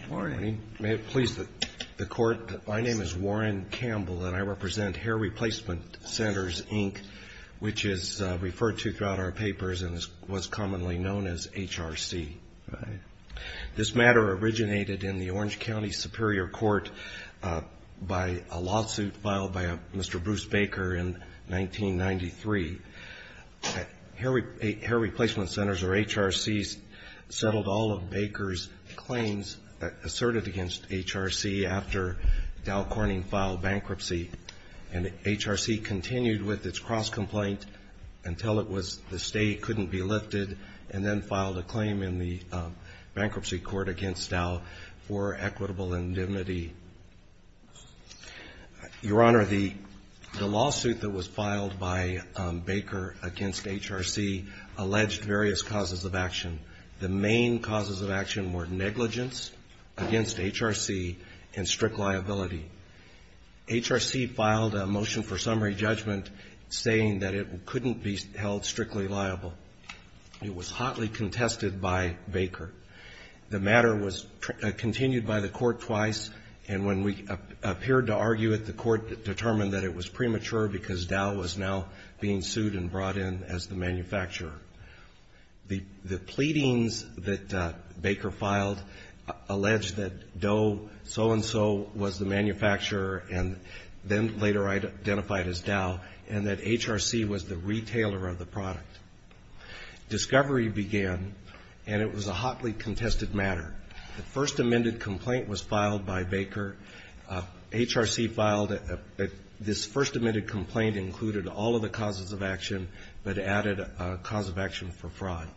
Good morning. May it please the Court, my name is Warren Campbell and I represent Hair Replacement Centers, Inc., which is referred to throughout our papers and was commonly known as HRC. This matter originated in the Orange County Superior Court by a lawsuit filed by Mr. Bruce Baker in 1993. Hair Replacement Centers, or HRCs, settled all of Baker's claims asserted against HRC after Dow Corning filed bankruptcy. And HRC continued with its cross-complaint until it was the state couldn't be lifted, and then filed a claim in the bankruptcy court against Dow for equitable indemnity. Your Honor, the lawsuit that was filed by Baker against HRC alleged various causes of action. The main causes of action were negligence against HRC and strict liability. HRC filed a motion for summary judgment saying that it couldn't be held strictly liable. It was hotly contested by Baker. The matter was continued by the court twice, and when we appeared to argue it, the court determined that it was premature because Dow was now being sued and brought in as the manufacturer. The pleadings that Baker filed alleged that Dow so-and-so was the manufacturer, and then later identified as Dow, and that HRC was the retailer of the product. Discovery began, and it was a hotly contested matter. The first amended complaint was filed by Baker. HRC filed this first amended complaint included all of the causes of action, but added a cause of action for fraud.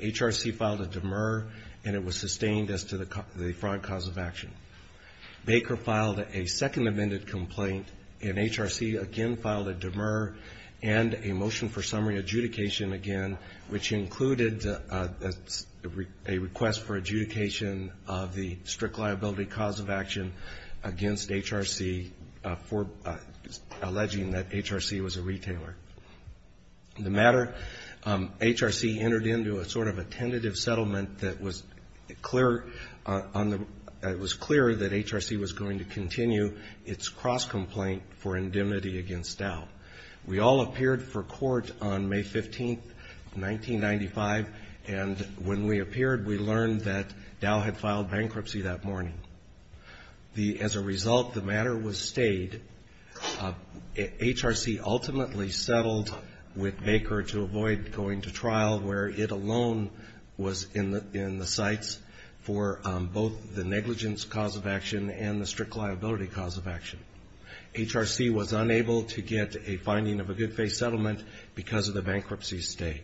HRC filed a demur, and it was sustained as to the fraud cause of action. Baker filed a second amended complaint, and HRC again filed a demur and a motion for summary adjudication again, which included a request for adjudication of the strict liability cause of action against HRC for alleging that HRC was a retailer. The matter, HRC entered into a sort of a tentative settlement that was clear that HRC was going to continue its cross-complaint for indemnity against Dow. We all appeared for court on May 15, 1995, and when we appeared, we learned that Dow had filed bankruptcy that morning. As a result, the matter was stayed. HRC ultimately settled with Baker to avoid going to trial where it alone was in the sights for both the negligence cause of action and the strict liability cause of action. HRC was unable to get a finding of a good-faith settlement because of the bankruptcy stay.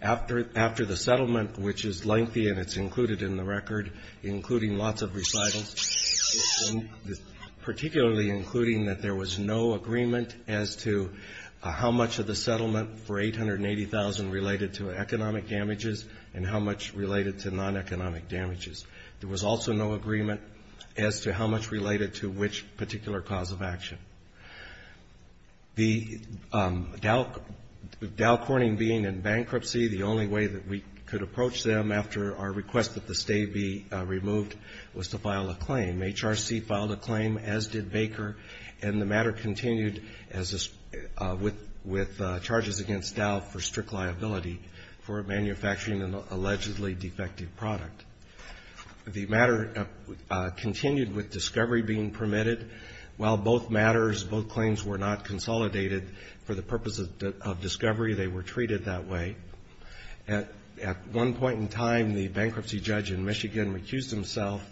After the settlement, which is lengthy and it's included in the record, including lots of recitals, particularly including that there was no agreement as to how much of the settlement for $880,000 related to economic damages and how much related to non-economic damages. There was also no agreement as to how much related to which particular cause of action. The Dow Corning being in bankruptcy, the only way that we could approach them after our request that the stay be removed was to file a claim. HRC filed a claim, as did Baker, and the matter continued with charges against Dow for strict liability for manufacturing an allegedly defective product. The matter continued with discovery being permitted. While both matters, both claims were not consolidated for the purpose of discovery, they were treated that way. At one point in time, the bankruptcy judge in Michigan recused himself,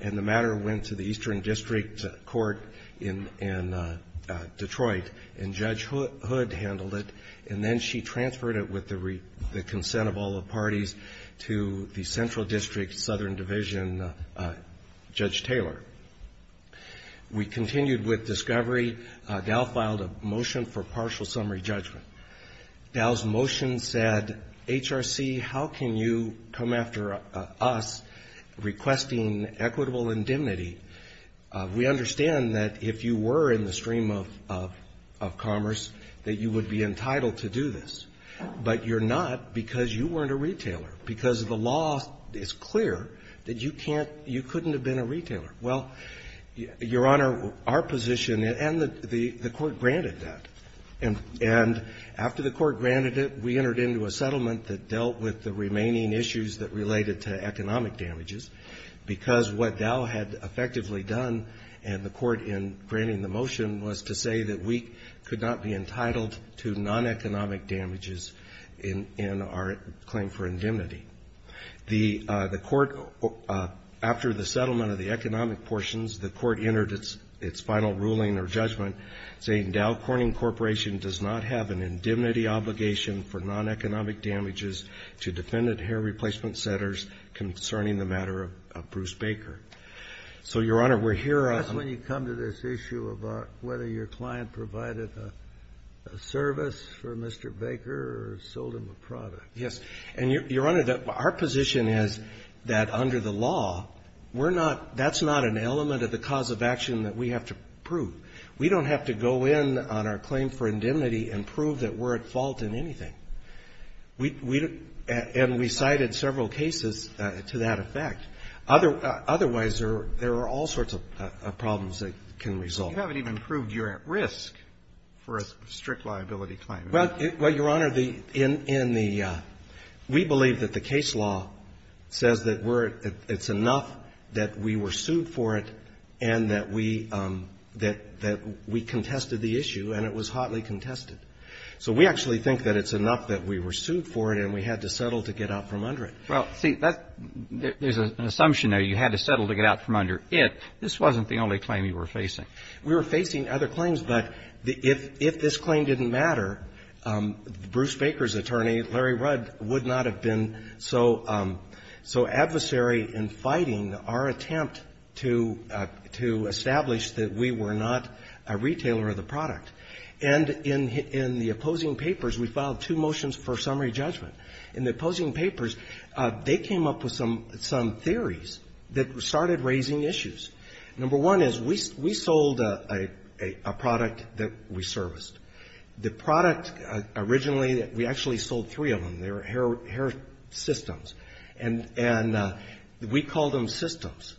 and the matter went to the Eastern District Court in Detroit, and Judge Hood handled it, and then she transferred it with the consent of all the parties to the Central District Southern Division Judge Taylor. We continued with discovery. Dow filed a motion for partial summary judgment. Dow's motion said, HRC, how can you come after us requesting equitable indemnity? We understand that if you were in the stream of commerce, that you would be entitled to do this, but you're not because you weren't a retailer, because the law is clear that you can't, you couldn't have been a retailer. Well, Your Honor, our position, and the Court granted that, and after the Court granted it, we entered into a settlement that dealt with the remaining issues that related to economic damages, because what Dow had effectively done, and the Court in granting the motion, was to say that we could not be entitled to non-economic damages in our claim for indemnity. The Court, after the settlement of the economic portions, the Court entered its final ruling or judgment, saying Dow Corning Corporation does not have an indemnity obligation for non-economic damages to defendant hair replacement centers concerning the matter of Bruce Baker. So, Your Honor, we're here. That's when you come to this issue of whether your client provided a service for Mr. Baker or sold him a product. Yes. And, Your Honor, our position is that under the law, we're not, that's not an element of the cause of action that we have to prove. We don't have to go in on our claim for indemnity and prove that we're at fault in anything. We don't, and we cited several cases to that effect. Otherwise, there are all sorts of problems that can result. You haven't even proved you're at risk for a strict liability claim. Well, Your Honor, the, in the, we believe that the case law says that we're, it's enough that we were sued for it and that we, that we contested the issue, and it was hotly contested. So we actually think that it's enough that we were sued for it and we had to settle to get out from under it. Well, see, that, there's an assumption there. You had to settle to get out from under it. This wasn't the only claim you were facing. We were facing other claims, but if, if this claim didn't matter, Bruce Baker's attorney, Larry Rudd, would not have been so, so adversary in fighting our attempt to, to establish that we were not a retailer of the product. And in, in the opposing papers, we filed two motions for summary judgment. In the opposing papers, they came up with some, some theories that started raising issues. Number one is we, we sold a, a product that we serviced. The product originally, we actually sold three of them. They were hair, hair systems, and, and we called them systems.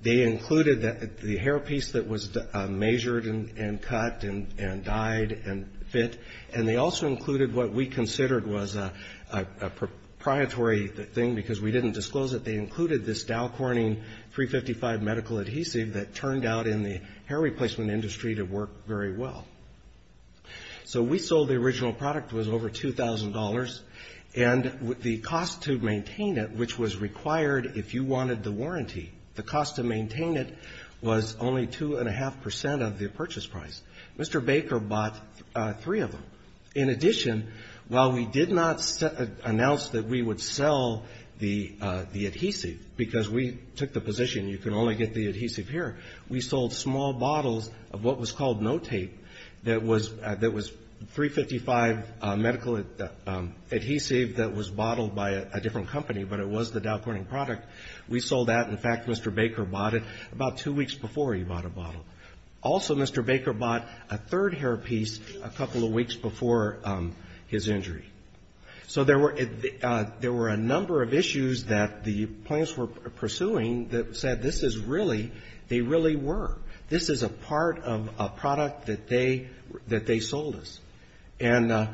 They included the, the hair piece that was measured and, and cut and, and dyed and fit. And they also included what we considered was a, a, a proprietary thing because we didn't disclose it. They included this Dow Corning 355 medical adhesive that turned out in the hair replacement industry to work very well. So we sold the original product. It was over $2,000. And the cost to maintain it, which was required if you wanted the warranty, the cost to maintain it was only two and a half percent of the purchase price. Mr. Baker bought three of them. In addition, while we did not announce that we would sell the, the adhesive because we took the position you can only get the adhesive here, we sold small bottles of what was called no tape that was, that was 355 medical, the adhesive that was bottled by a different company, but it was the Dow Corning product. We sold that. In fact, Mr. Baker bought it about two weeks before he bought a bottle. Also, Mr. Baker bought a third hair piece a couple of weeks before his injury. So there were, there were a number of issues that the clients were pursuing that said this is really, they really were. This is a part of a product that they, that they sold us. And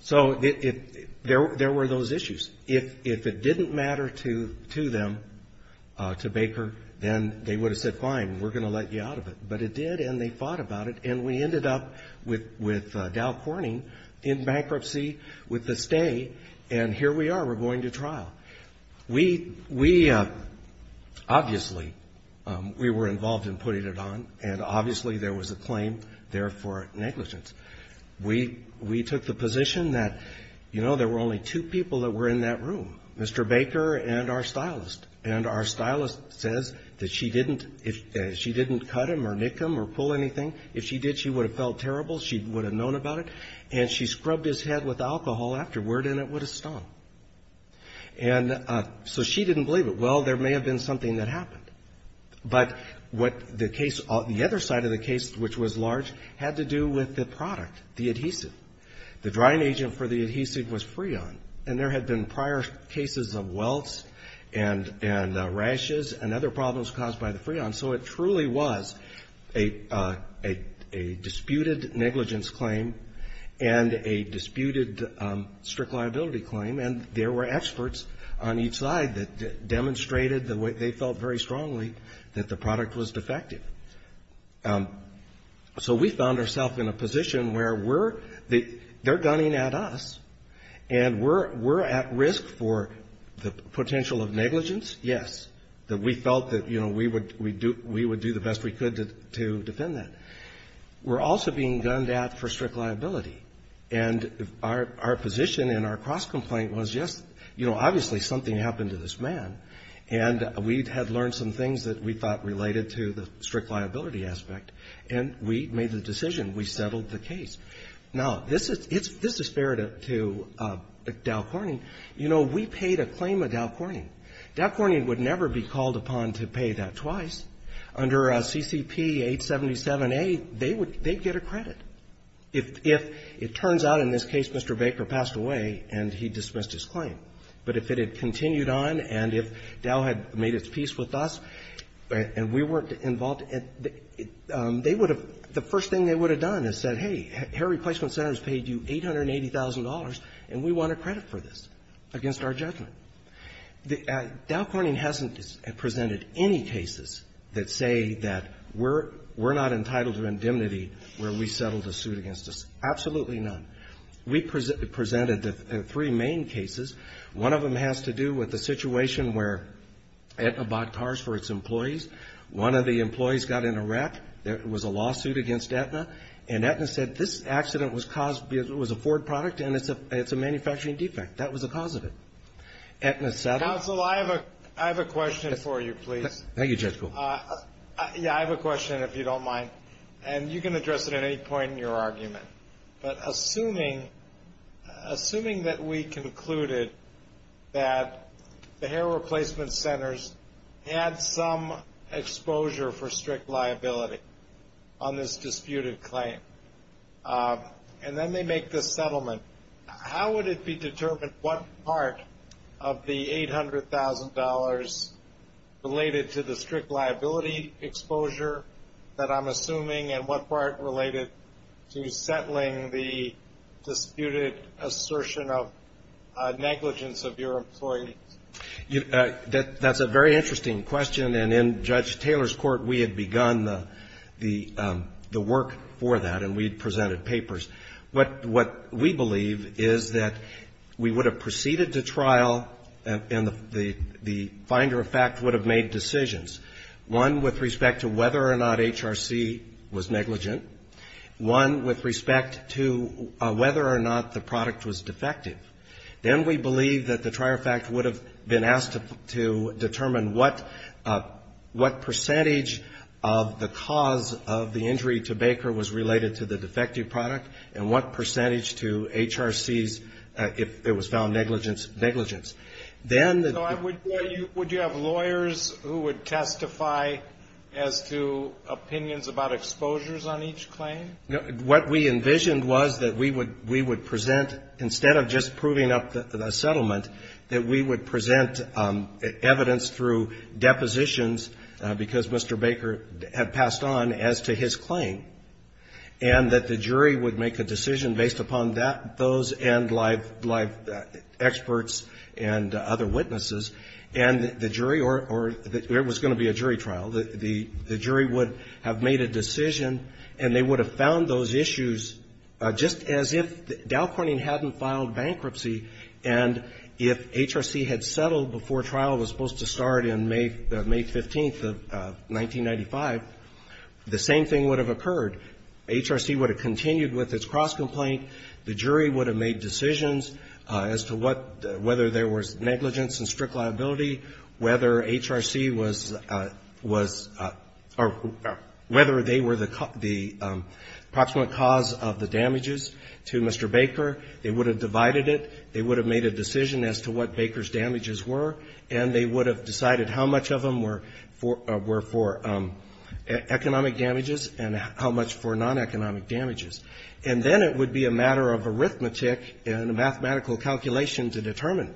so it, there, there were those issues. If, if it didn't matter to, to them, to Baker, then they would have said fine, we're going to let you out of it. But it did and they fought about it and we ended up with, with Dow Corning in bankruptcy with the stay and here we are, we're going to trial. We, we obviously, we were involved in putting it on and obviously there was a claim there for negligence. We, we took the position that, you know, there were only two people that were in that room, Mr. Baker and our stylist. And our stylist says that she didn't, she didn't cut him or nick him or pull anything. If she did, she would have felt terrible. She would have known about it. And she scrubbed his head with alcohol afterward and it would have stung. And so she didn't believe it. Well, there may have been something that happened. But what the case, the other side of the case, which was large, had to do with the product, the adhesive. The drying agent for the adhesive was Freon. And there had been prior cases of welts and, and rashes and other problems caused by the Freon. So it truly was a, a, a disputed negligence claim and a disputed strict liability claim. And there were experts on each side that demonstrated the way they felt very strongly that the product was defective. So we found ourself in a position where we're, they're gunning at us and we're, we're at risk for the potential of negligence. Yes. That we felt that, you know, we would, we do, we would do the best we could to, to defend that. We're also being gunned at for strict liability. And our, our position in our cross-complaint was just, you know, obviously something happened to this man. And we had learned some things that we thought related to the strict liability aspect. And we made the decision. We settled the case. Now, this is, it's, this is fair to, to Dow Corning. You know, we paid a claim of Dow Corning. Dow Corning would never be called upon to pay that twice. If, if it turns out in this case Mr. Baker passed away and he dismissed his claim, but if it had continued on and if Dow had made its peace with us and we weren't involved, they would have, the first thing they would have done is said, hey, Hair Replacement Centers paid you $880,000 and we want a credit for this against our judgment. Dow Corning hasn't presented any cases that say that we're, we're not entitled to indemnity where we settled a suit against us. Absolutely none. We presented the three main cases. One of them has to do with the situation where Aetna bought cars for its employees. One of the employees got in a wreck. There was a lawsuit against Aetna. And Aetna said this accident was caused because it was a Ford product and it's a, it's a manufacturing defect. That was the cause of it. Aetna settled. Counsel, I have a, I have a question for you, please. Thank you, Judge Gould. Yeah, I have a question, if you don't mind. And you can address it at any point in your argument. But assuming, assuming that we concluded that the Hair Replacement Centers had some exposure for strict liability on this disputed claim and then they make this settlement, how would it be determined what part of the $800,000 related to the liability exposure that I'm assuming and what part related to settling the disputed assertion of negligence of your employees? That's a very interesting question. And in Judge Taylor's court, we had begun the work for that and we had presented papers. What we believe is that we would have proceeded to trial and the finder of fact would have made decisions. One with respect to whether or not HRC was negligent. One with respect to whether or not the product was defective. Then we believe that the trier fact would have been asked to determine what, what percentage of the cause of the injury to Baker was related to the defective product and what percentage to HRC's, if it was found negligence, negligence. Would you have lawyers who would testify as to opinions about exposures on each claim? What we envisioned was that we would present, instead of just proving up the settlement, that we would present evidence through depositions because Mr. Baker had passed on as to his claim and that the jury would make a decision based upon that, those and live, live experts and other witnesses. And the jury or it was going to be a jury trial. The jury would have made a decision and they would have found those issues just as if Dow Corning hadn't filed bankruptcy and if HRC had settled before trial was supposed to start in May, May 15th of 1995, the same thing would have occurred. HRC would have continued with its cross complaint. The jury would have made decisions as to what, whether there was negligence and strict liability, whether HRC was, was, or whether they were the, the approximate cause of the damages to Mr. Baker. They would have divided it. They would have made a decision as to what Baker's damages were and they would have decided how much of them were for, were for economic damages and how much for non-economic damages. And then it would be a matter of arithmetic and a mathematical calculation to determine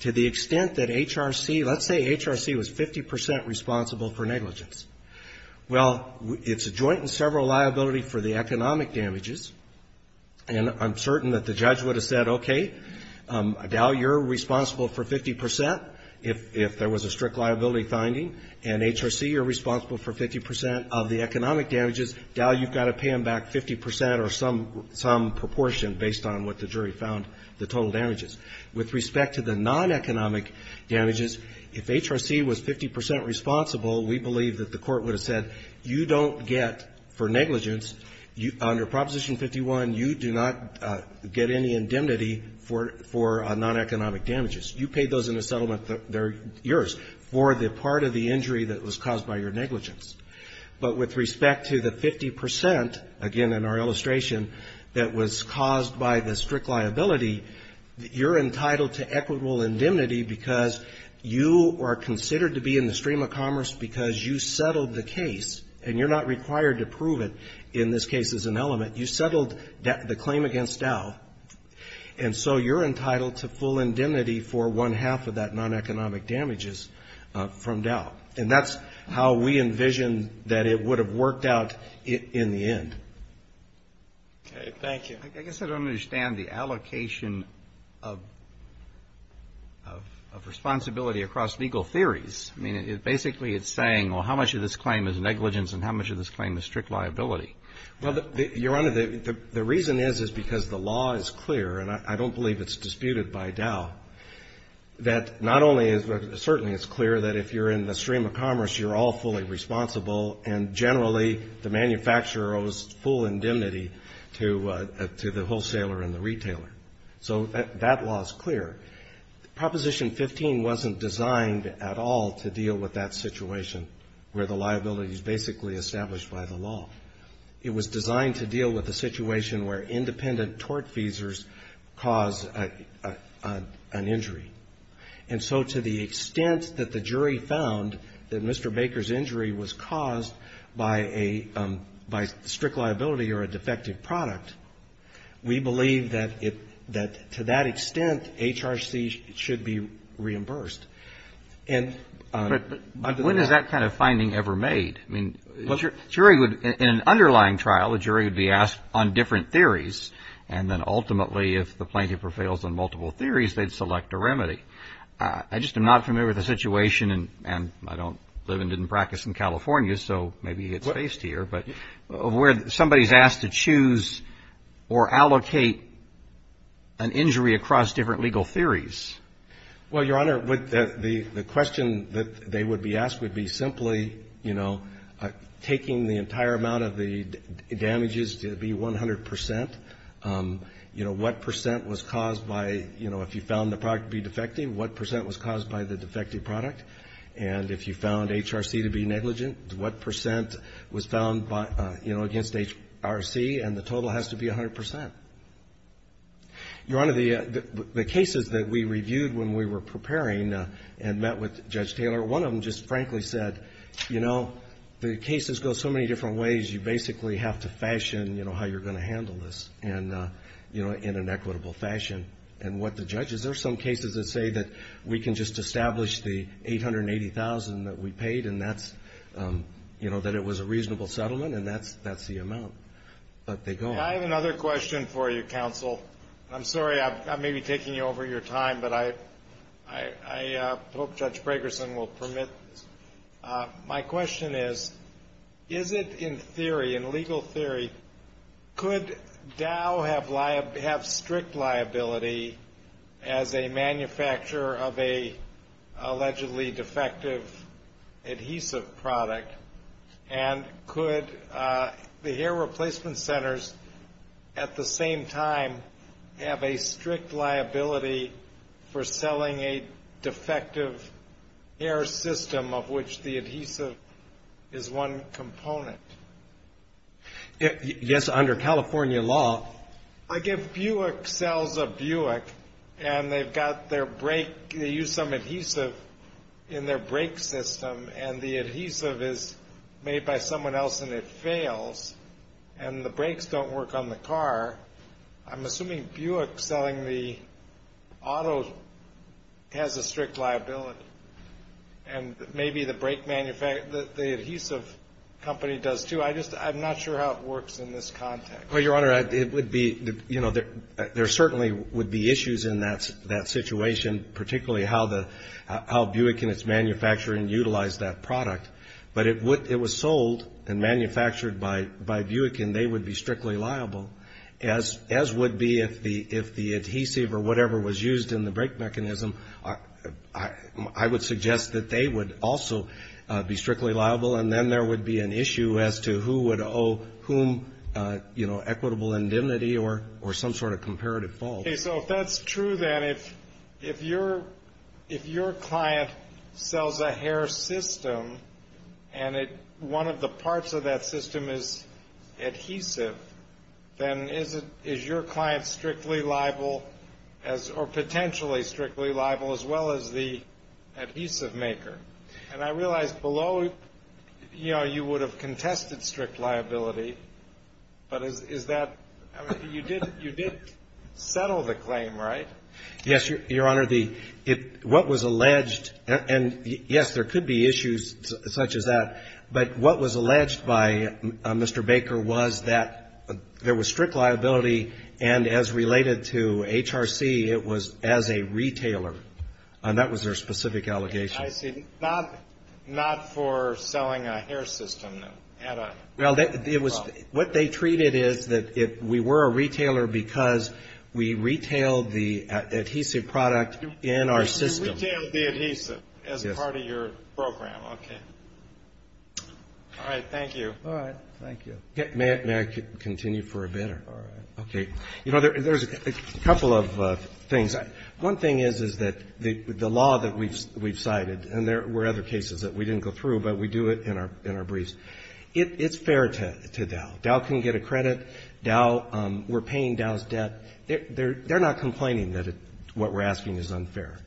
to the extent that HRC, let's say HRC was 50 percent responsible for negligence. Well, it's a joint and several liability for the economic damages and I'm certain that the judge would have said, okay, Dow, you're responsible for 50 percent. If, if there was a strict liability finding and HRC are responsible for 50 percent of the economic damages, Dow, you've got to pay them back 50 percent or some, some proportion based on what the jury found, the total damages. With respect to the non-economic damages, if HRC was 50 percent responsible, we believe that the court would have said, you don't get for negligence, under Proposition 51, you do not get any indemnity for, for non-economic damages. You paid those in a settlement that they're yours for the part of the injury that was caused by your negligence. But with respect to the 50 percent, again in our illustration, that was caused by the strict liability, you're entitled to equitable indemnity because you are considered to be in the stream of commerce because you settled the case and you're not required to prove it in this case as an element. You settled the claim against Dow and so you're entitled to full indemnity for one half of that non-economic damages from Dow. And that's how we envision that it would have worked out in the end. Okay. Thank you. I guess I don't understand the allocation of, of responsibility across legal theories. I mean, basically it's saying, well, how much of this claim is negligence and how much of this claim is strict liability? Well, Your Honor, the reason is, is because the law is clear and I don't believe it's disputed by Dow that not only is, certainly it's clear that if you're in the stream of commerce, you're all fully responsible and generally the manufacturer owes full indemnity to, to the wholesaler and the retailer. So that law is clear. Proposition 15 wasn't designed at all to deal with that situation where the it was designed to deal with the situation where independent tortfeasors cause an injury. And so to the extent that the jury found that Mr. Baker's injury was caused by a, by strict liability or a defective product, we believe that it, that to that extent HRC should be reimbursed. But when is that kind of finding ever made? I mean, in an underlying trial, the jury would be asked on different theories and then ultimately if the plaintiff prevails on multiple theories, they'd select a remedy. I just am not familiar with the situation and I don't live and didn't practice in California, so maybe it's based here, but where somebody's asked to choose or allocate an injury across different legal theories. Well, Your Honor, the question that they would be asked would be simply, you know, taking the entire amount of the damages to be 100 percent. You know, what percent was caused by, you know, if you found the product to be defective, what percent was caused by the defective product. And if you found HRC to be negligent, what percent was found by, you know, against HRC, and the total has to be 100 percent. Your Honor, the cases that we reviewed when we were preparing and met with Judge Bragerson, we said, you know, the cases go so many different ways, you basically have to fashion, you know, how you're going to handle this, you know, in an equitable fashion. And what the judges, there are some cases that say that we can just establish the $880,000 that we paid and that's, you know, that it was a reasonable settlement and that's the amount. But they go on. I have another question for you, counsel. I'm sorry, I may be taking you over your time, but I hope Judge Bragerson will permit this. My question is, is it in theory, in legal theory, could Dow have strict liability as a manufacturer of a allegedly defective adhesive product, and could the hair replacement centers at the same time have a strict liability for selling a system of which the adhesive is one component? Yes, under California law. Like if Buick sells a Buick and they've got their brake, they use some adhesive in their brake system and the adhesive is made by someone else and it fails and the brakes don't work on the car, I'm assuming Buick selling the auto has a strict liability, and maybe the brake manufacturer, the adhesive company does, too. I just, I'm not sure how it works in this context. Well, Your Honor, it would be, you know, there certainly would be issues in that situation, particularly how the, how Buick and its manufacturer utilize that product. But it would, it was sold and manufactured by Buick and they would be strictly liable, as would be if the adhesive or whatever was used in the brake mechanism. I would suggest that they would also be strictly liable, and then there would be an issue as to who would owe whom, you know, equitable indemnity or some sort of comparative fault. Okay, so if that's true, then if your client sells a hair system and one of the parts of that system is adhesive, then is your client strictly liable or potentially strictly liable, as well as the adhesive maker? And I realize below, you know, you would have contested strict liability, but is that, you did settle the claim, right? Yes, Your Honor, the, what was alleged, and yes, there could be issues such as that, but what was alleged by Mr. Baker was that there was strict liability and as related to HRC, it was as a retailer, and that was their specific allegation. I see. Not for selling a hair system, no. Well, it was, what they treated is that we were a retailer because we retailed the adhesive product in our system. You retailed the adhesive as part of your program. Yes. Okay. All right. Thank you. All right. Thank you. May I continue for a minute? Yes, Your Honor. All right. Okay. You know, there's a couple of things. One thing is, is that the law that we've cited, and there were other cases that we didn't go through, but we do it in our briefs. It's fair to Dow. Dow can get a credit. Dow, we're paying Dow's debt. They're not complaining that what we're asking is unfair,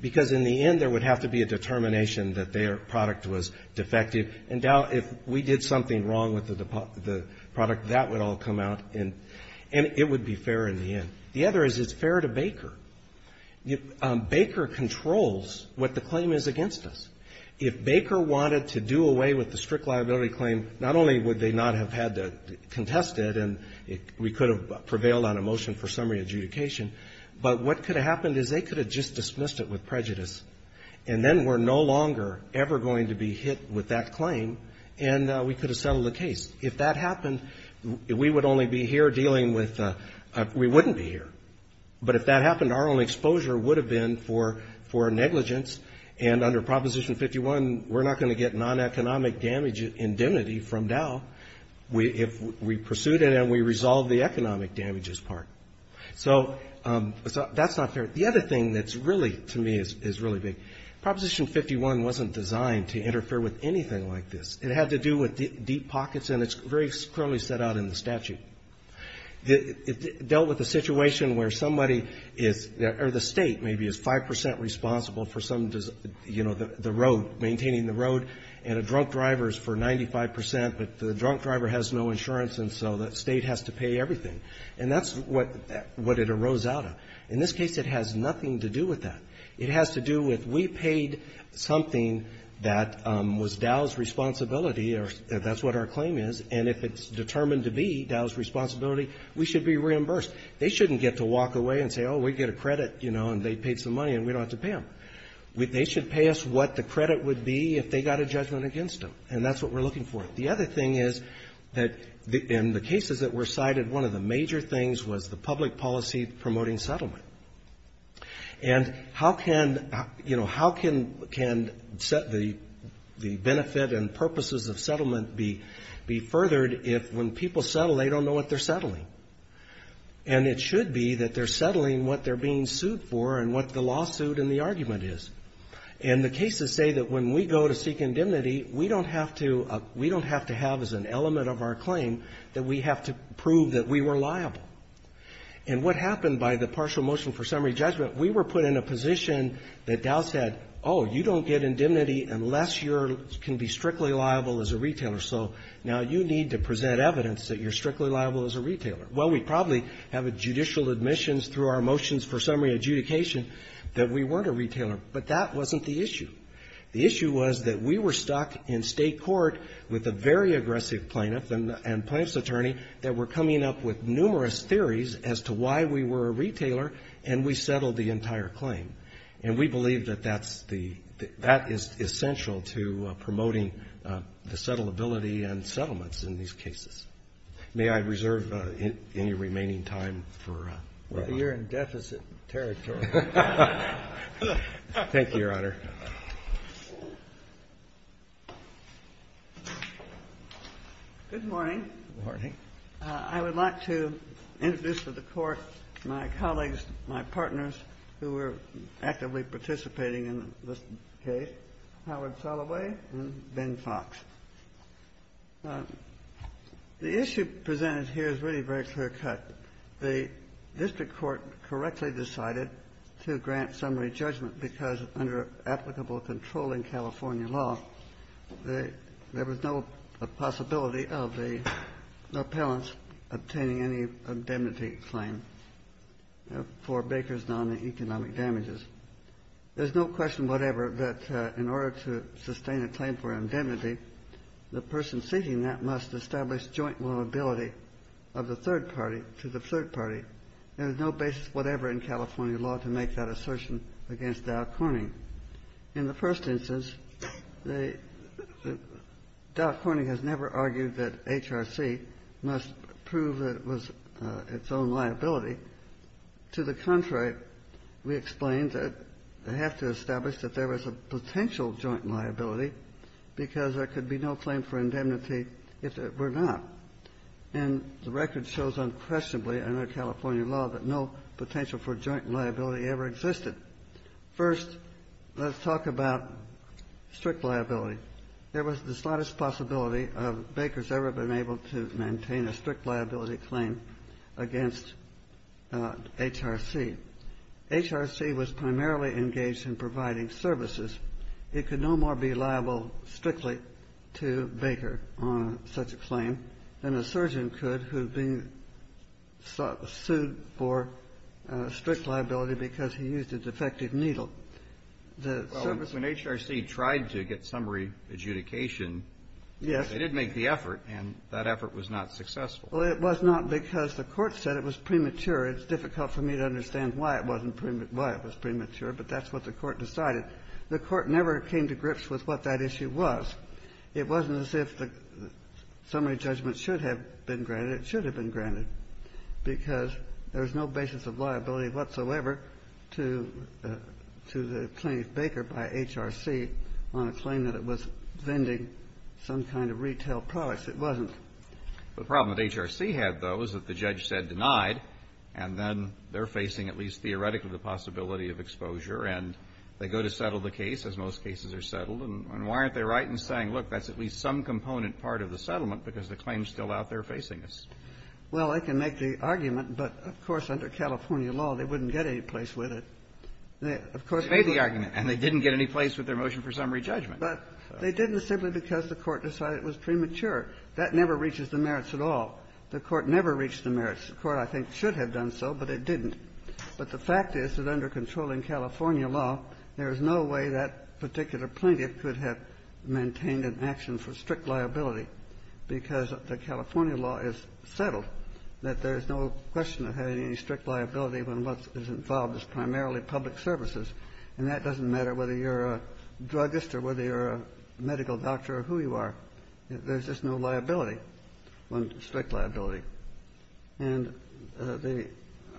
because in the end, there would have to be a determination that their product was defective, and Dow, if we did something wrong with the product, that would all come out, and it would be fair in the end. The other is, it's fair to Baker. Baker controls what the claim is against us. If Baker wanted to do away with the strict liability claim, not only would they not have had to contest it, and we could have prevailed on a motion for summary adjudication, but what could have happened is they could have just dismissed it with prejudice, and then we're no longer ever going to be hit with that claim, and we could have settled the case. If that happened, we would only be here dealing with the we wouldn't be here. But if that happened, our only exposure would have been for negligence, and under Proposition 51, we're not going to get non-economic damage indemnity from Dow if we pursued it and we resolved the economic damages part. So that's not fair. The other thing that's really, to me, is really big. Proposition 51 wasn't designed to interfere with anything like this. It had to do with deep pockets, and it's very clearly set out in the statute. It dealt with a situation where somebody is or the State maybe is 5 percent responsible for some, you know, the road, maintaining the road, and a drunk driver is for 95 percent, but the drunk driver has no insurance, and so the State has to pay everything. And that's what it arose out of. In this case, it has nothing to do with that. It has to do with we paid something that was Dow's responsibility, or that's what our claim is, and if it's determined to be Dow's responsibility, we should be reimbursed. They shouldn't get to walk away and say, oh, we get a credit, you know, and they paid some money and we don't have to pay them. They should pay us what the credit would be if they got a judgment against them, and that's what we're looking for. The other thing is that in the cases that were cited, one of the major things was the public policy promoting settlement. And how can, you know, how can the benefit and purposes of settlement be furthered if when people settle, they don't know what they're settling? And it should be that they're settling what they're being sued for and what the lawsuit and the argument is. And the cases say that when we go to seek indemnity, we don't have to have as an element of our claim that we have to prove that we were liable. And what happened by the partial motion for summary judgment, we were put in a position that Dow said, oh, you don't get indemnity unless you can be strictly liable as a retailer. So now you need to present evidence that you're strictly liable as a retailer. Well, we probably have a judicial admissions through our motions for summary adjudication that we weren't a retailer, but that wasn't the issue. The issue was that we were stuck in State court with a very aggressive plaintiff and plaintiff's attorney that were coming up with numerous theories as to why we were a retailer, and we settled the entire claim. And we believe that that's the – that is essential to promoting the settlability and settlements in these cases. May I reserve any remaining time for one more? Well, you're in deficit territory. Thank you, Your Honor. Good morning. Good morning. I would like to introduce to the Court my colleagues, my partners who were actively participating in this case, Howard Soloway and Ben Fox. The issue presented here is really very clear-cut. The district court correctly decided to grant summary judgment because under applicable control in California law, there was no possibility of the appellants obtaining any indemnity claim for Baker's non-economic damages. There's no question whatever that in order to sustain a claim for indemnity, the person seeking that must establish joint liability of the third party to the third party. There is no basis whatever in California law to make that assertion against Dow Corning. In the first instance, Dow Corning has never argued that HRC must prove that it was its own liability. To the contrary, we explained that they have to establish that there was a potential joint liability because there could be no claim for indemnity if it were not. And the record shows unquestionably under California law that no potential for joint liability ever existed. First, let's talk about strict liability. There was the slightest possibility of Baker's ever been able to maintain a strict liability claim against HRC. HRC was primarily engaged in providing services. It could no more be liable strictly to Baker on such a claim than a surgeon could who had been sued for strict liability because he used a defective needle. The service was not. Well, when HRC tried to get summary adjudication. Yes. They did make the effort, and that effort was not successful. Well, it was not because the Court said it was premature. It's difficult for me to understand why it was premature, but that's what the Court decided. The Court never came to grips with what that issue was. It wasn't as if the summary judgment should have been granted. It should have been granted because there was no basis of liability whatsoever to the plaintiff Baker by HRC on a claim that it was vending some kind of retail products. It wasn't. The problem that HRC had, though, is that the judge said denied, and then they're facing at least theoretically the possibility of exposure, and they go to settle the case, as most cases are settled, and why aren't they right in saying, look, that's at least some component part of the settlement because the claim's still out there facing us? Well, I can make the argument, but of course, under California law, they wouldn't get any place with it. Of course, they would. You made the argument, and they didn't get any place with their motion for summary But they didn't simply because the Court decided it was premature. That never reaches the merits at all. The Court never reached the merits. The Court, I think, should have done so, but it didn't. But the fact is that under controlling California law, there is no way that particular plaintiff could have maintained an action for strict liability because the California law is settled, that there is no question of having any strict liability when what is involved is primarily public services, and that doesn't matter whether you're a druggist or whether you're a medical doctor or who you are. There's just no liability on strict liability. And the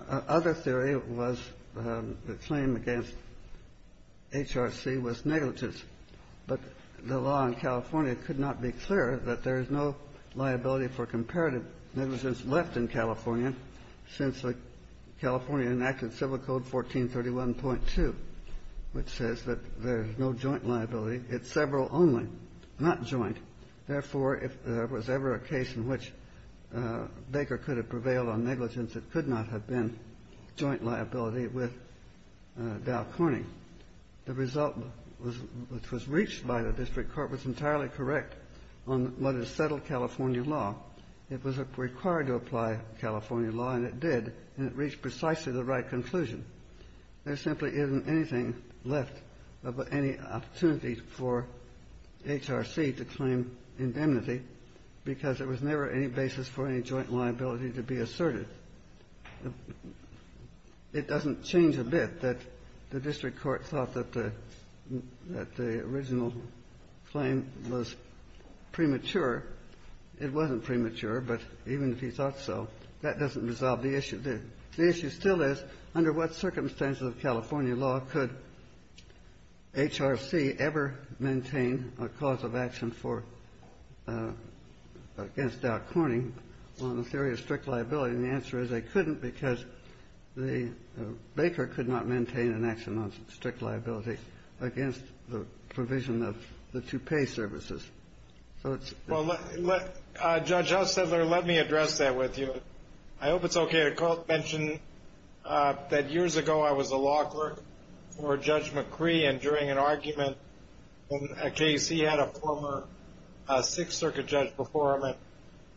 other theory was the claim against HRC was negligence. But the law in California could not be clearer that there is no liability for comparative negligence left in California since California enacted Civil Code 1431.2, which says that there's no joint liability. It's several only, not joint. Therefore, if there was ever a case in which Baker could have prevailed on negligence, it could not have been joint liability with Dow Corning. The result which was reached by the district court was entirely correct on what is settled California law. It was required to apply California law, and it did, and it reached precisely the right conclusion. There simply isn't anything left of any opportunity for HRC to claim indemnity because there was never any basis for any joint liability to be asserted. It doesn't change a bit that the district court thought that the original claim was premature. It wasn't premature, but even if he thought so, that doesn't resolve the issue. The issue still is, under what circumstances of California law could HRC ever maintain a cause of action for or against Dow Corning on the theory of strict liability? And the answer is they couldn't because Baker could not maintain an action on strict liability against the provision of the two pay services. So it's the same. Judge Ostendler, let me address that with you. I hope it's okay to mention that years ago I was a law clerk for Judge McCree, and during an argument in a case he had a former Sixth Circuit judge before him and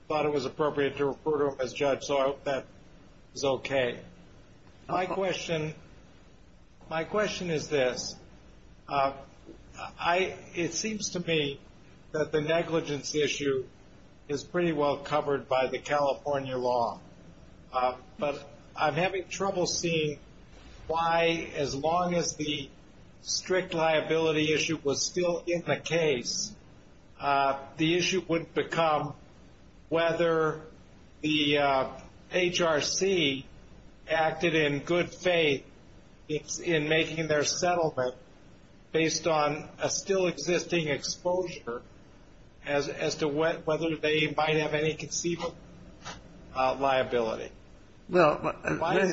thought it was appropriate to refer to him as judge, so I hope that is okay. My question is this. It seems to me that the negligence issue is pretty well covered by the California law, but I'm having trouble seeing why as long as the strict liability issue was still in the case, the issue would become whether the HRC acted in good faith in making their settlement based on a still existing exposure as to whether they might have any conceivable liability. Why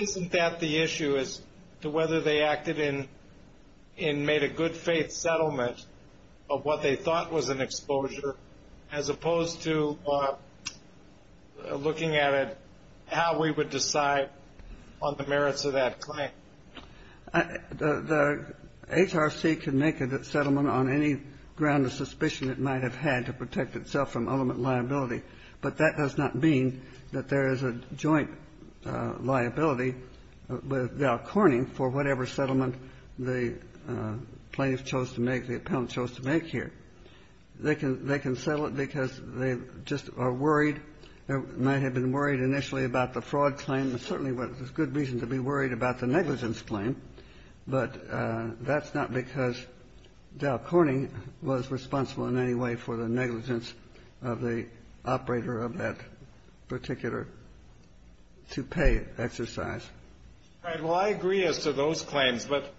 isn't that the issue as to whether they acted in and made a good faith settlement of what they thought was an exposure as opposed to looking at it, how we would decide on the merits of that claim? The HRC can make a settlement on any ground of suspicion it might have had to protect itself from ultimate liability, but that does not mean that there is a joint liability with Dow Corning for whatever settlement the plaintiff chose to make, the appellant chose to make here. They can settle it because they just are worried, might have been worried initially about the fraud claim, and certainly there's good reason to be worried about the negligence claim, but that's not because Dow Corning was responsible in any way for the negligence of the operator of that particular toupee exercise. All right. Well, I agree as to those claims, but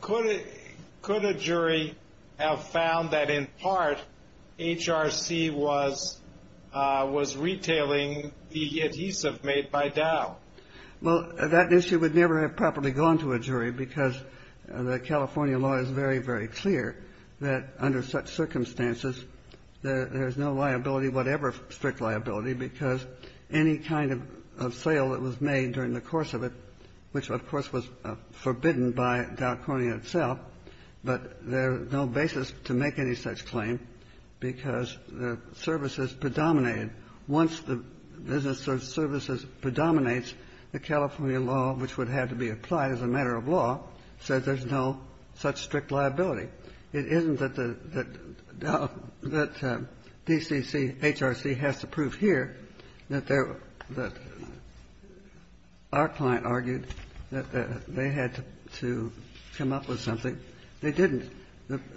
could a jury have found that in part HRC was retailing the adhesive made by Dow? Well, that issue would never have properly gone to a jury because the California law is very, very clear that under such circumstances, there's no liability whatever strict liability because any kind of sale that was made during the course of it, which, of course, was forbidden by Dow Corning itself, but there's no basis to make any such The California law, which would have to be applied as a matter of law, says there's no such strict liability. It isn't that the Dow, that DCC, HRC has to prove here that they're, that our client argued that they had to come up with something. They didn't.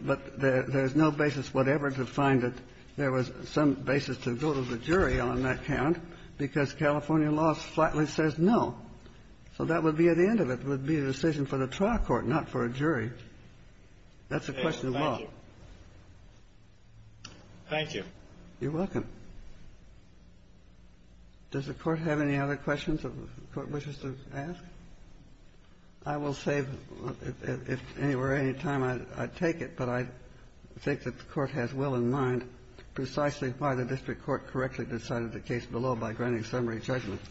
But there's no basis whatever to find that there was some basis to go to the jury on that count because California law flatly says no. So that would be the end of it, would be a decision for the trial court, not for a jury. That's a question of law. Thank you. You're welcome. Does the Court have any other questions the Court wishes to ask? I will save, if anywhere, any time I take it, but I think that the Court has well in granting summary judgment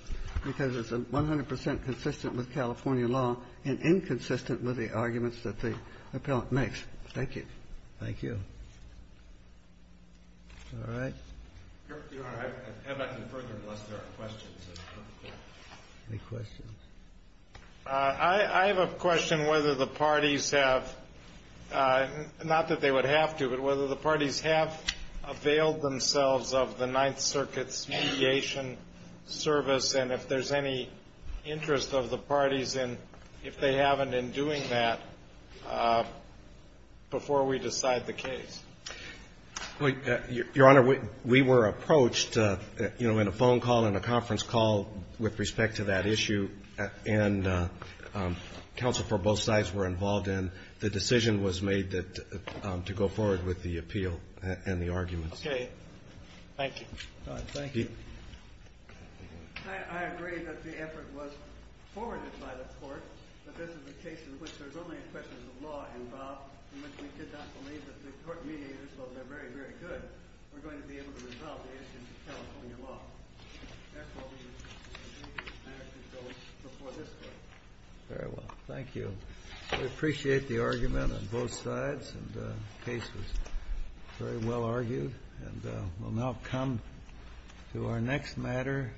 because it's 100 percent consistent with California law and inconsistent with the arguments that the appellant makes. Thank you. Thank you. All right. Your Honor, I have nothing further unless there are questions. Any questions? I have a question whether the parties have, not that they would have to, but whether the parties have availed themselves of the Ninth Circuit's mediation service and if there's any interest of the parties in, if they haven't, in doing that before we decide the case. Your Honor, we were approached in a phone call, in a conference call with respect to that issue, and counsel for both sides were involved in. The decision was made that, to go forward with the appeal and the arguments. Okay. Thank you. All right. Thank you. I agree that the effort was forwarded by the Court, but this is a case in which there's only a question of law involved, in which we could not believe that the Court mediators, though they're very, very good, were going to be able to resolve the issue in California law. Therefore, we believe the statute goes before this Court. Very well. Thank you. We appreciate the argument on both sides, and the case was very well argued. And we'll now come to our next matter.